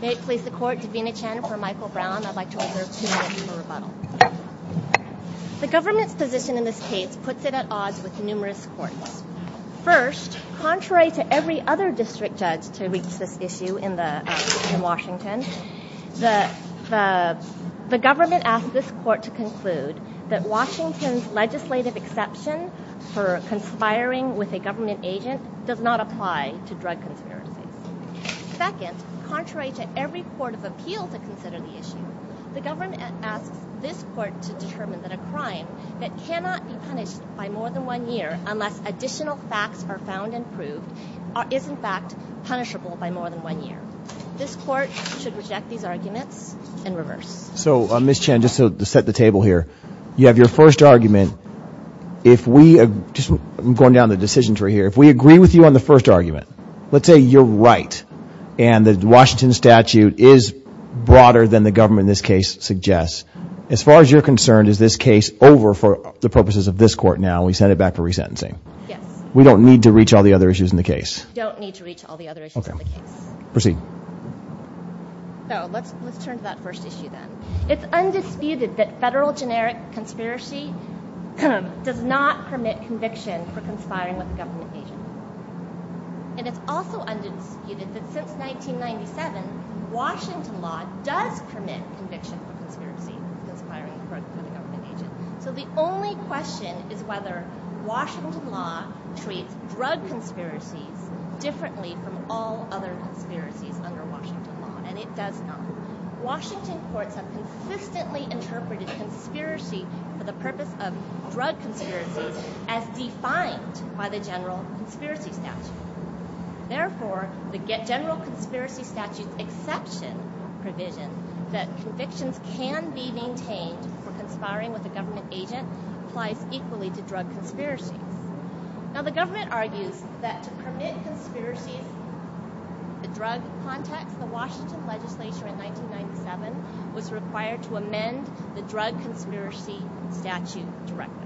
May it please the court, Davina Chen for Michael Brown. I'd like to reserve two minutes for rebuttal. The government's position in this case puts it at odds with numerous courts. First, contrary to every other district judge to reach this issue in Washington, the government asked this court to conclude that Washington's legislative exception for conspiring with a government agent does not apply to drug conspiracies. Second, contrary to every court of appeal to consider the issue, the government asks this court to determine that a crime that cannot be punished by more than one year unless additional facts are found and proved is in fact punishable by more than one year. This court should reject these arguments and reverse. So Ms. Chen, just to set the table here, you have your first argument. If we, just going down the decision tree here, if we agree with you on the first argument, let's say you're right and the Washington statute is broader than the government in this case suggests. As far as you're concerned, is this case over for the purposes of this court now and we send it back for resentencing? Yes. We don't need to reach all the other issues in the case? We don't need to reach all the other issues in the case. Proceed. So let's turn to that first issue then. It's undisputed that federal generic conspiracy does not permit conviction for conspiring with a government agent. And it's also undisputed that since 1997, Washington law does permit conviction for conspiracy, conspiring with a government agent. So the only question is whether Washington law treats drug conspiracies differently from all other conspiracies under Washington law. And it does not. Washington courts have consistently interpreted conspiracy for the purpose of drug conspiracies as defined by the general conspiracy statute. Therefore, the general conspiracy statute's exception provision that convictions can be maintained for conspiring with a government agent applies equally to drug conspiracies. Now the government argues that to permit conspiracies in the drug context, the Washington legislature in 1997 was required to amend the drug conspiracy statute directly.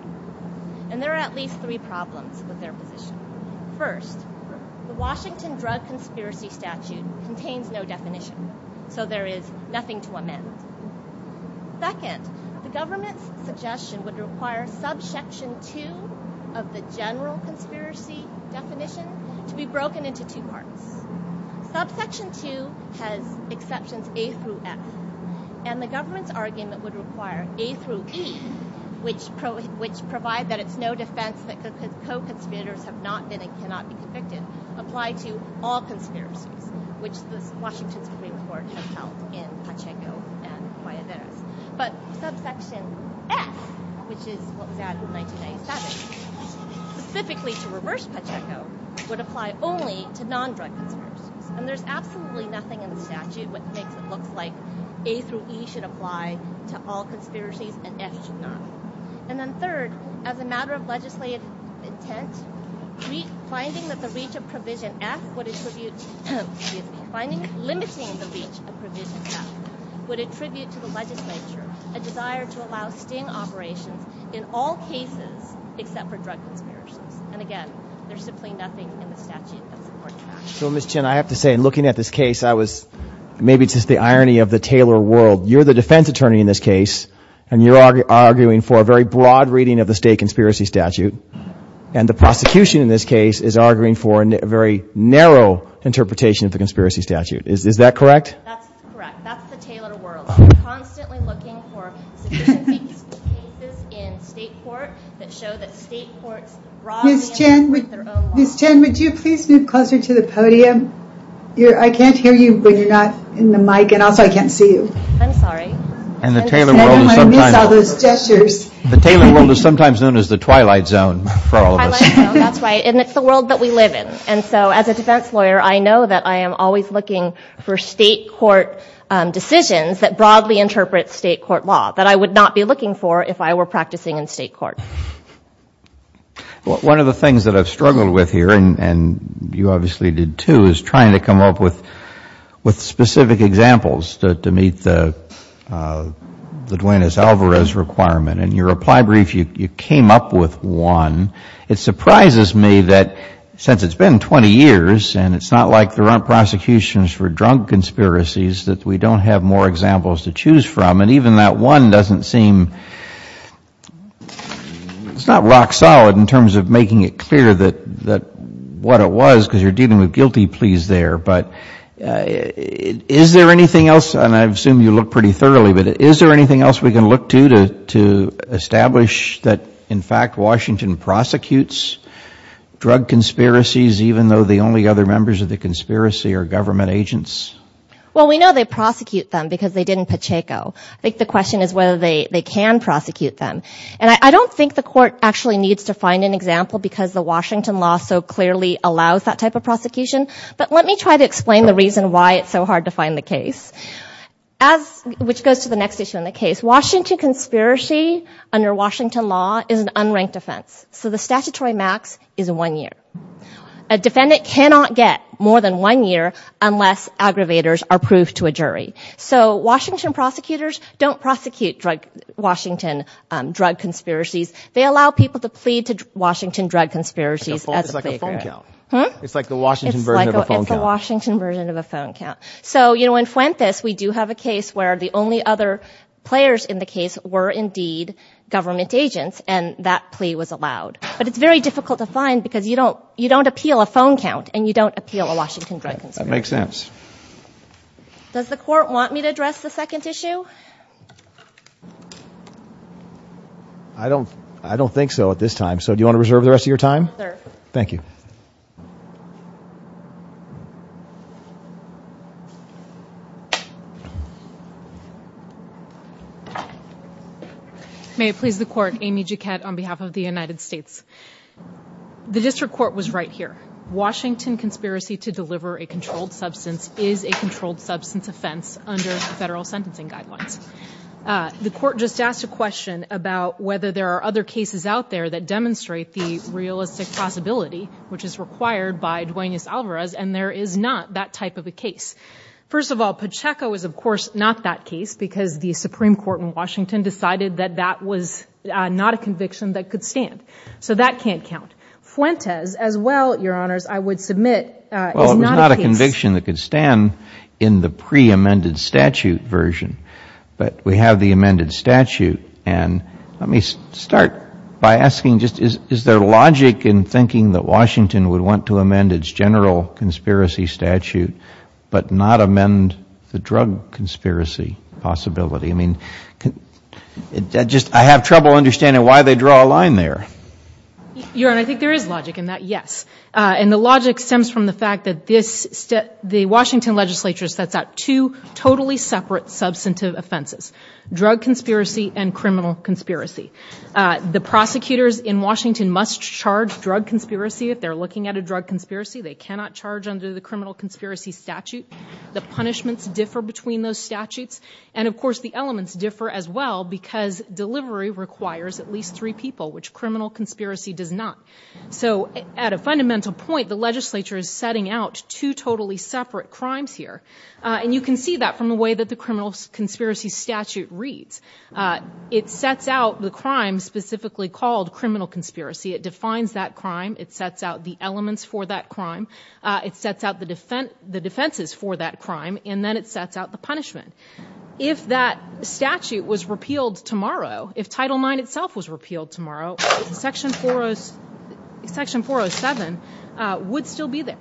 And there are at least three problems with their position. First, the Washington drug conspiracy statute contains no definition. So there is nothing to amend. Second, the government's suggestion would require subsection 2 of the general conspiracy definition to be broken into two parts. Subsection 2 has exceptions A through F. And the government's argument would require A through E, which provide that it's no defense that co-conspirators have not been and cannot be convicted, apply to all conspiracies, which the Washington Supreme Court has held in Pacheco and Guayaderas. But subsection F, which is what was added in 1997, specifically to reverse Pacheco, would apply only to non-drug conspiracies. And there's absolutely nothing in the statute that makes it look like A through E should apply to all conspiracies and F should not. And then third, as a matter of legislative intent, finding that the reach of provision F would attribute – excuse me, limiting the reach of provision F would attribute to the legislature a desire to allow sting operations in all cases except for drug conspiracies. And again, there's simply nothing in the statute that supports that. So, Ms. Chen, I have to say, in looking at this case, I was – maybe it's just the irony of the Taylor world. You're the defense attorney in this case, and you're arguing for a very broad reading of the state conspiracy statute. And the prosecution in this case is arguing for a very narrow interpretation of the conspiracy statute. Is that correct? That's correct. That's the Taylor world. We're constantly looking for sufficient cases in state court that show that state courts – Ms. Chen, would you please move closer to the podium? I can't hear you when you're not in the mic, and also I can't see you. I'm sorry. And the Taylor world is sometimes – I miss all those gestures. The Taylor world is sometimes known as the twilight zone for all of us. Twilight zone, that's right. And it's the world that we live in. And so, as a defense lawyer, I know that I am always looking for state court decisions that broadly interpret state court law, that I would not be looking for if I were practicing in state court. One of the things that I've struggled with here, and you obviously did too, is trying to come up with specific examples to meet the Duenas-Alvarez requirement. In your reply brief, you came up with one. It surprises me that since it's been 20 years, and it's not like there aren't prosecutions for drunk conspiracies, that we don't have more examples to choose from. And even that one doesn't seem – it's not rock solid in terms of making it clear what it was, because you're dealing with guilty pleas there. But is there anything else – and I assume you look pretty thoroughly – but is there anything else we can look to to establish that, in fact, Washington prosecutes drug conspiracies even though the only other members of the conspiracy are government agents? Well, we know they prosecute them because they did in Pacheco. I think the question is whether they can prosecute them. And I don't think the court actually needs to find an example because the Washington law so clearly allows that type of prosecution. But let me try to explain the reason why it's so hard to find the case, which goes to the next issue in the case. Washington conspiracy under Washington law is an unranked offense. So the statutory max is one year. A defendant cannot get more than one year unless aggravators are proved to a jury. So Washington prosecutors don't prosecute Washington drug conspiracies. They allow people to plead to Washington drug conspiracies. It's like a phone count. It's like the Washington version of a phone count. It's the Washington version of a phone count. So in Fuentes, we do have a case where the only other players in the case were indeed government agents, and that plea was allowed. But it's very difficult to find because you don't appeal a phone count and you don't appeal a Washington drug conspiracy. That makes sense. Does the court want me to address the second issue? I don't think so at this time. So do you want to reserve the rest of your time? Yes, sir. Thank you. May it please the court. Amy Jouquet on behalf of the United States. The district court was right here. Washington conspiracy to deliver a controlled substance is a controlled substance offense under federal sentencing guidelines. The court just asked a question about whether there are other cases out there that demonstrate the realistic possibility, which is required by Duane S. Alvarez, and there is not that type of a case. First of all, Pacheco is, of course, not that case because the Supreme Court in Washington decided that that was not a conviction that could stand. So that can't count. Fuentes as well, Your Honors, I would submit is not a case. Well, it was not a conviction that could stand in the pre-amended statute version, but we have the amended statute. And let me start by asking just is there logic in thinking that Washington would want to amend its general conspiracy statute, but not amend the drug conspiracy possibility? I mean, I have trouble understanding why they draw a line there. Your Honor, I think there is logic in that, yes. And the logic stems from the fact that the Washington legislature sets out two totally separate substantive offenses, drug conspiracy and criminal conspiracy. The prosecutors in Washington must charge drug conspiracy if they're looking at a drug conspiracy. They cannot charge under the criminal conspiracy statute. The punishments differ between those statutes. And, of course, the elements differ as well because delivery requires at least three people, which criminal conspiracy does not. So at a fundamental point, the legislature is setting out two totally separate crimes here. And you can see that from the way that the criminal conspiracy statute reads. It sets out the crime specifically called criminal conspiracy. It defines that crime. It sets out the elements for that crime. It sets out the defenses for that crime. And then it sets out the punishment. If that statute was repealed tomorrow, if Title IX itself was repealed tomorrow, Section 407 would still be there.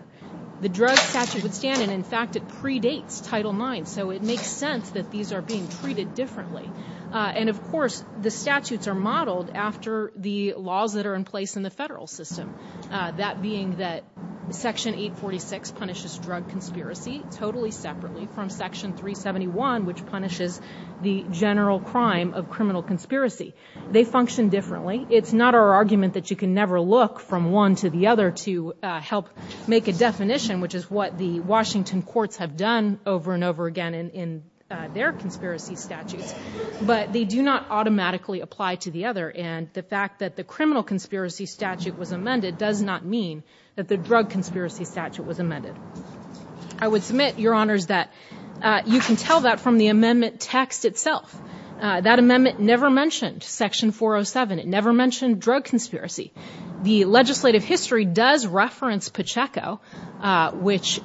The drug statute would stand. And, in fact, it predates Title IX. So it makes sense that these are being treated differently. And, of course, the statutes are modeled after the laws that are in place in the federal system, that being that Section 846 punishes drug conspiracy totally separately from Section 371, which punishes the general crime of criminal conspiracy. They function differently. It's not our argument that you can never look from one to the other to help make a definition, which is what the Washington courts have done over and over again in their conspiracy statutes. But they do not automatically apply to the other. And the fact that the criminal conspiracy statute was amended does not mean that the drug conspiracy statute was amended. I would submit, Your Honors, that you can tell that from the amendment text itself. That amendment never mentioned Section 407. It never mentioned drug conspiracy. The legislative history does reference Pacheco, which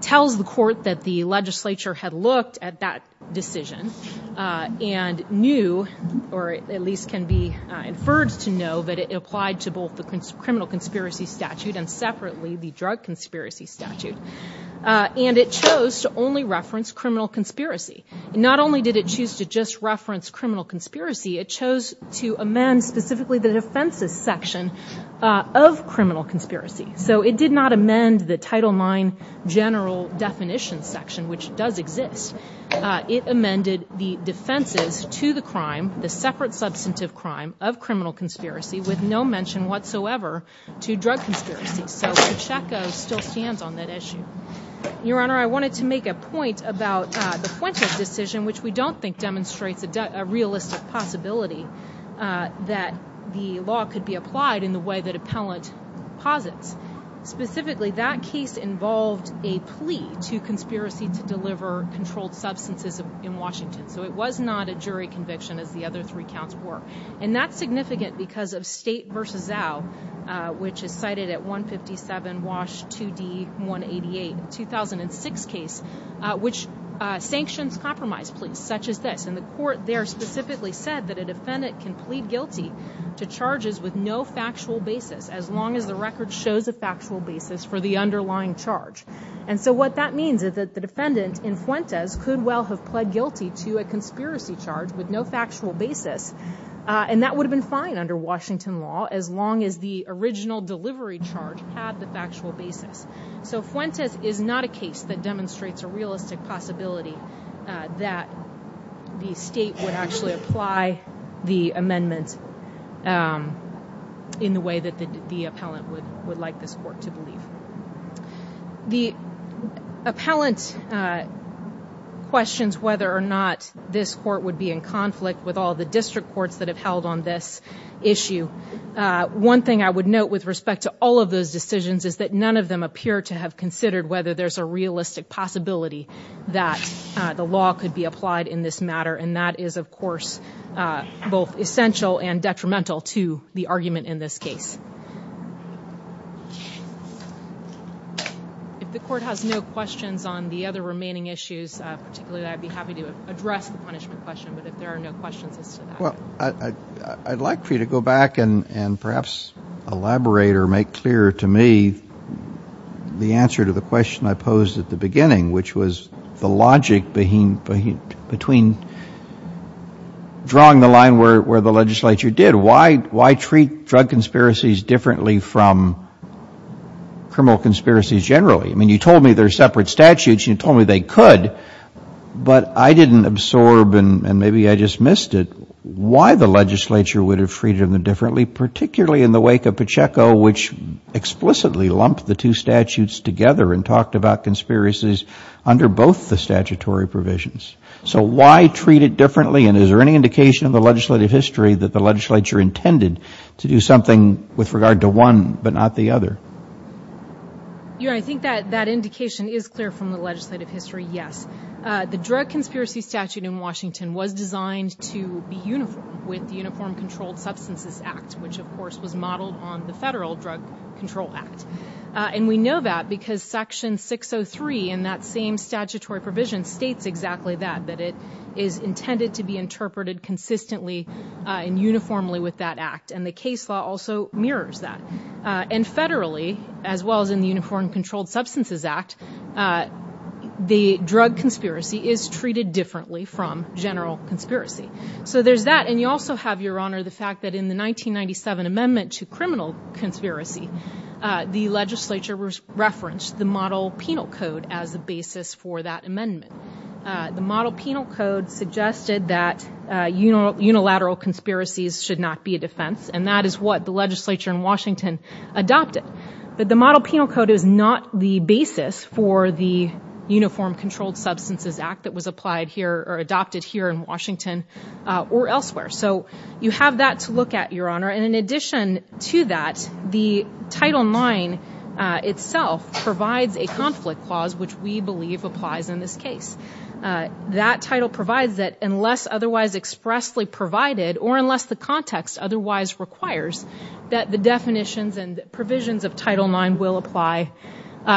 tells the court that the legislature had looked at that decision and knew, or at least can be inferred to know, that it applied to both the criminal conspiracy statute and separately the drug conspiracy statute. And it chose to only reference criminal conspiracy. Not only did it choose to just reference criminal conspiracy, it chose to amend specifically the defenses section of criminal conspiracy. So it did not amend the Title IX general definition section, which does exist. It amended the defenses to the crime, the separate substantive crime of criminal conspiracy, with no mention whatsoever to drug conspiracy. So Pacheco still stands on that issue. Your Honor, I wanted to make a point about the Fuentes decision, which we don't think demonstrates a realistic possibility that the law could be applied in the way that appellant posits. Specifically, that case involved a plea to conspiracy to deliver controlled substances in Washington. So it was not a jury conviction, as the other three counts were. And that's significant because of State v. Zao, which is cited at 157 Wash 2D 188, 2006 case, which sanctions compromise pleas such as this. And the court there specifically said that a defendant can plead guilty to charges with no factual basis, as long as the record shows a factual basis for the underlying charge. And so what that means is that the defendant in Fuentes could well have pled guilty to a conspiracy charge with no factual basis, and that would have been fine under Washington law, as long as the original delivery charge had the factual basis. So Fuentes is not a case that demonstrates a realistic possibility that the State would actually apply the amendment in the way that the appellant would like this court to believe. The appellant questions whether or not this court would be in conflict with all the district courts that have held on this issue. One thing I would note with respect to all of those decisions is that none of them appear to have considered whether there's a realistic possibility that the law could be applied in this matter. And that is, of course, both essential and detrimental to the argument in this case. If the court has no questions on the other remaining issues, particularly, I'd be happy to address the punishment question, but if there are no questions as to that. Well, I'd like for you to go back and perhaps elaborate or make clear to me the answer to the question I posed at the beginning, which was the logic between drawing the line where the legislature did. Why treat drug conspiracies differently from criminal conspiracies generally? I mean, you told me there are separate statutes. You told me they could. But I didn't absorb, and maybe I just missed it, why the legislature would have treated them differently, particularly in the wake of Pacheco, which explicitly lumped the two statutes together and talked about conspiracies under both the statutory provisions. So why treat it differently, and is there any indication in the legislative history that the legislature intended to do something with regard to one but not the other? I think that indication is clear from the legislative history, yes. The drug conspiracy statute in Washington was designed to be uniform with the Uniform Controlled Substances Act, which, of course, was modeled on the Federal Drug Control Act. And we know that because Section 603 in that same statutory provision states exactly that, that it is intended to be interpreted consistently and uniformly with that act, and the case law also mirrors that. And federally, as well as in the Uniform Controlled Substances Act, the drug conspiracy is treated differently from general conspiracy. So there's that, and you also have, Your Honor, the fact that in the 1997 amendment to criminal conspiracy, the legislature referenced the Model Penal Code as the basis for that amendment. The Model Penal Code suggested that unilateral conspiracies should not be a defense, and that is what the legislature in Washington adopted. But the Model Penal Code is not the basis for the Uniform Controlled Substances Act that was applied here or adopted here in Washington or elsewhere. So you have that to look at, Your Honor. And in addition to that, the Title IX itself provides a conflict clause, which we believe applies in this case. That title provides that unless otherwise expressly provided, or unless the context otherwise requires, that the definitions and provisions of Title IX will apply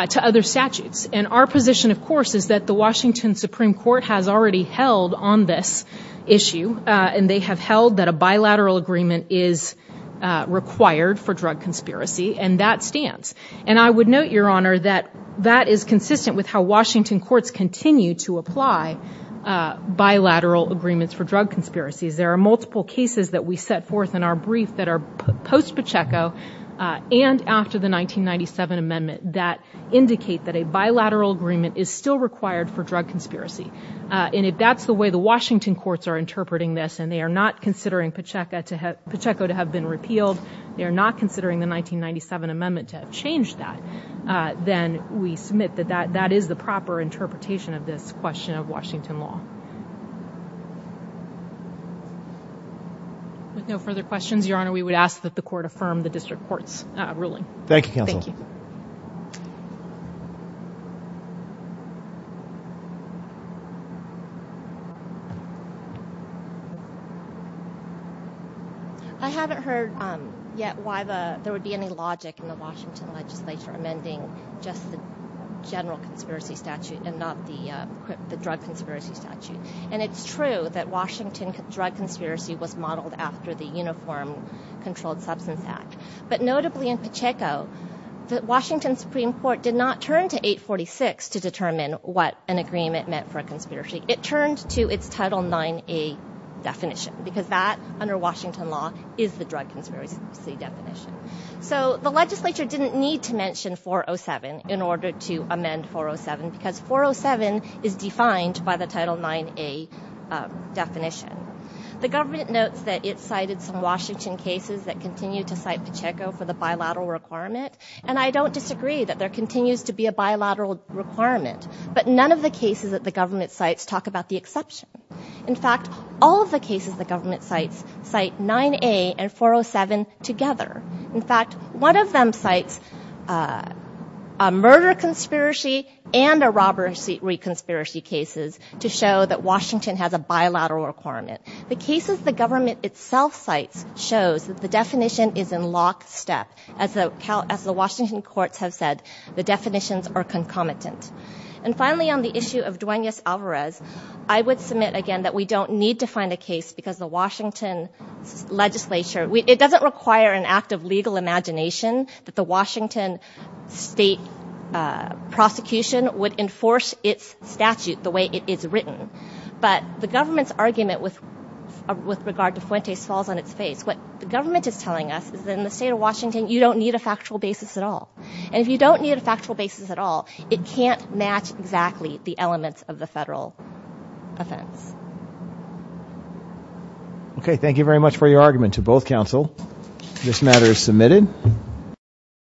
to other statutes. And our position, of course, is that the Washington Supreme Court has already held on this issue, and they have held that a bilateral agreement is required for drug conspiracy, and that stands. And I would note, Your Honor, that that is consistent with how Washington courts continue to apply bilateral agreements for drug conspiracies. There are multiple cases that we set forth in our brief that are post-Pacheco and after the 1997 amendment that indicate that a bilateral agreement is still required for drug conspiracy. And if that's the way the Washington courts are interpreting this, and they are not considering Pacheco to have been repealed, they are not considering the 1997 amendment to have changed that, then we submit that that is the proper interpretation of this question of Washington law. With no further questions, Your Honor, we would ask that the court affirm the district court's ruling. Thank you, counsel. I haven't heard yet why there would be any logic in the Washington legislature amending just the general conspiracy statute and not the drug conspiracy statute. And it's true that Washington drug conspiracy was modeled after the Uniform Controlled Substance Act. But notably in Pacheco, the Washington Supreme Court did not turn to 846 to determine what an agreement meant for a conspiracy. It turned to its Title 9A definition, because that, under Washington law, is the drug conspiracy definition. So the legislature didn't need to mention 407 in order to amend 407, because 407 is defined by the Title 9A definition. The government notes that it cited some Washington cases that continue to cite Pacheco for the bilateral requirement, and I don't disagree that there continues to be a bilateral requirement, but none of the cases that the government cites talk about the exception. In fact, all of the cases the government cites cite 9A and 407 together. In fact, one of them cites a murder conspiracy and a robbery conspiracy cases to show that Washington has a bilateral requirement. The cases the government itself cites shows that the definition is in lockstep. As the Washington courts have said, the definitions are concomitant. And finally, on the issue of Duenas-Alvarez, I would submit again that we don't need to find a case, because the Washington legislature, it doesn't require an act of legal imagination that the Washington state prosecution would enforce its statute the way it is written. But the government's argument with regard to Fuentes falls on its face. What the government is telling us is that in the state of Washington, you don't need a factual basis at all. And if you don't need a factual basis at all, it can't match exactly the elements of the federal offense. Okay, thank you very much for your argument to both counsel. This matter is submitted.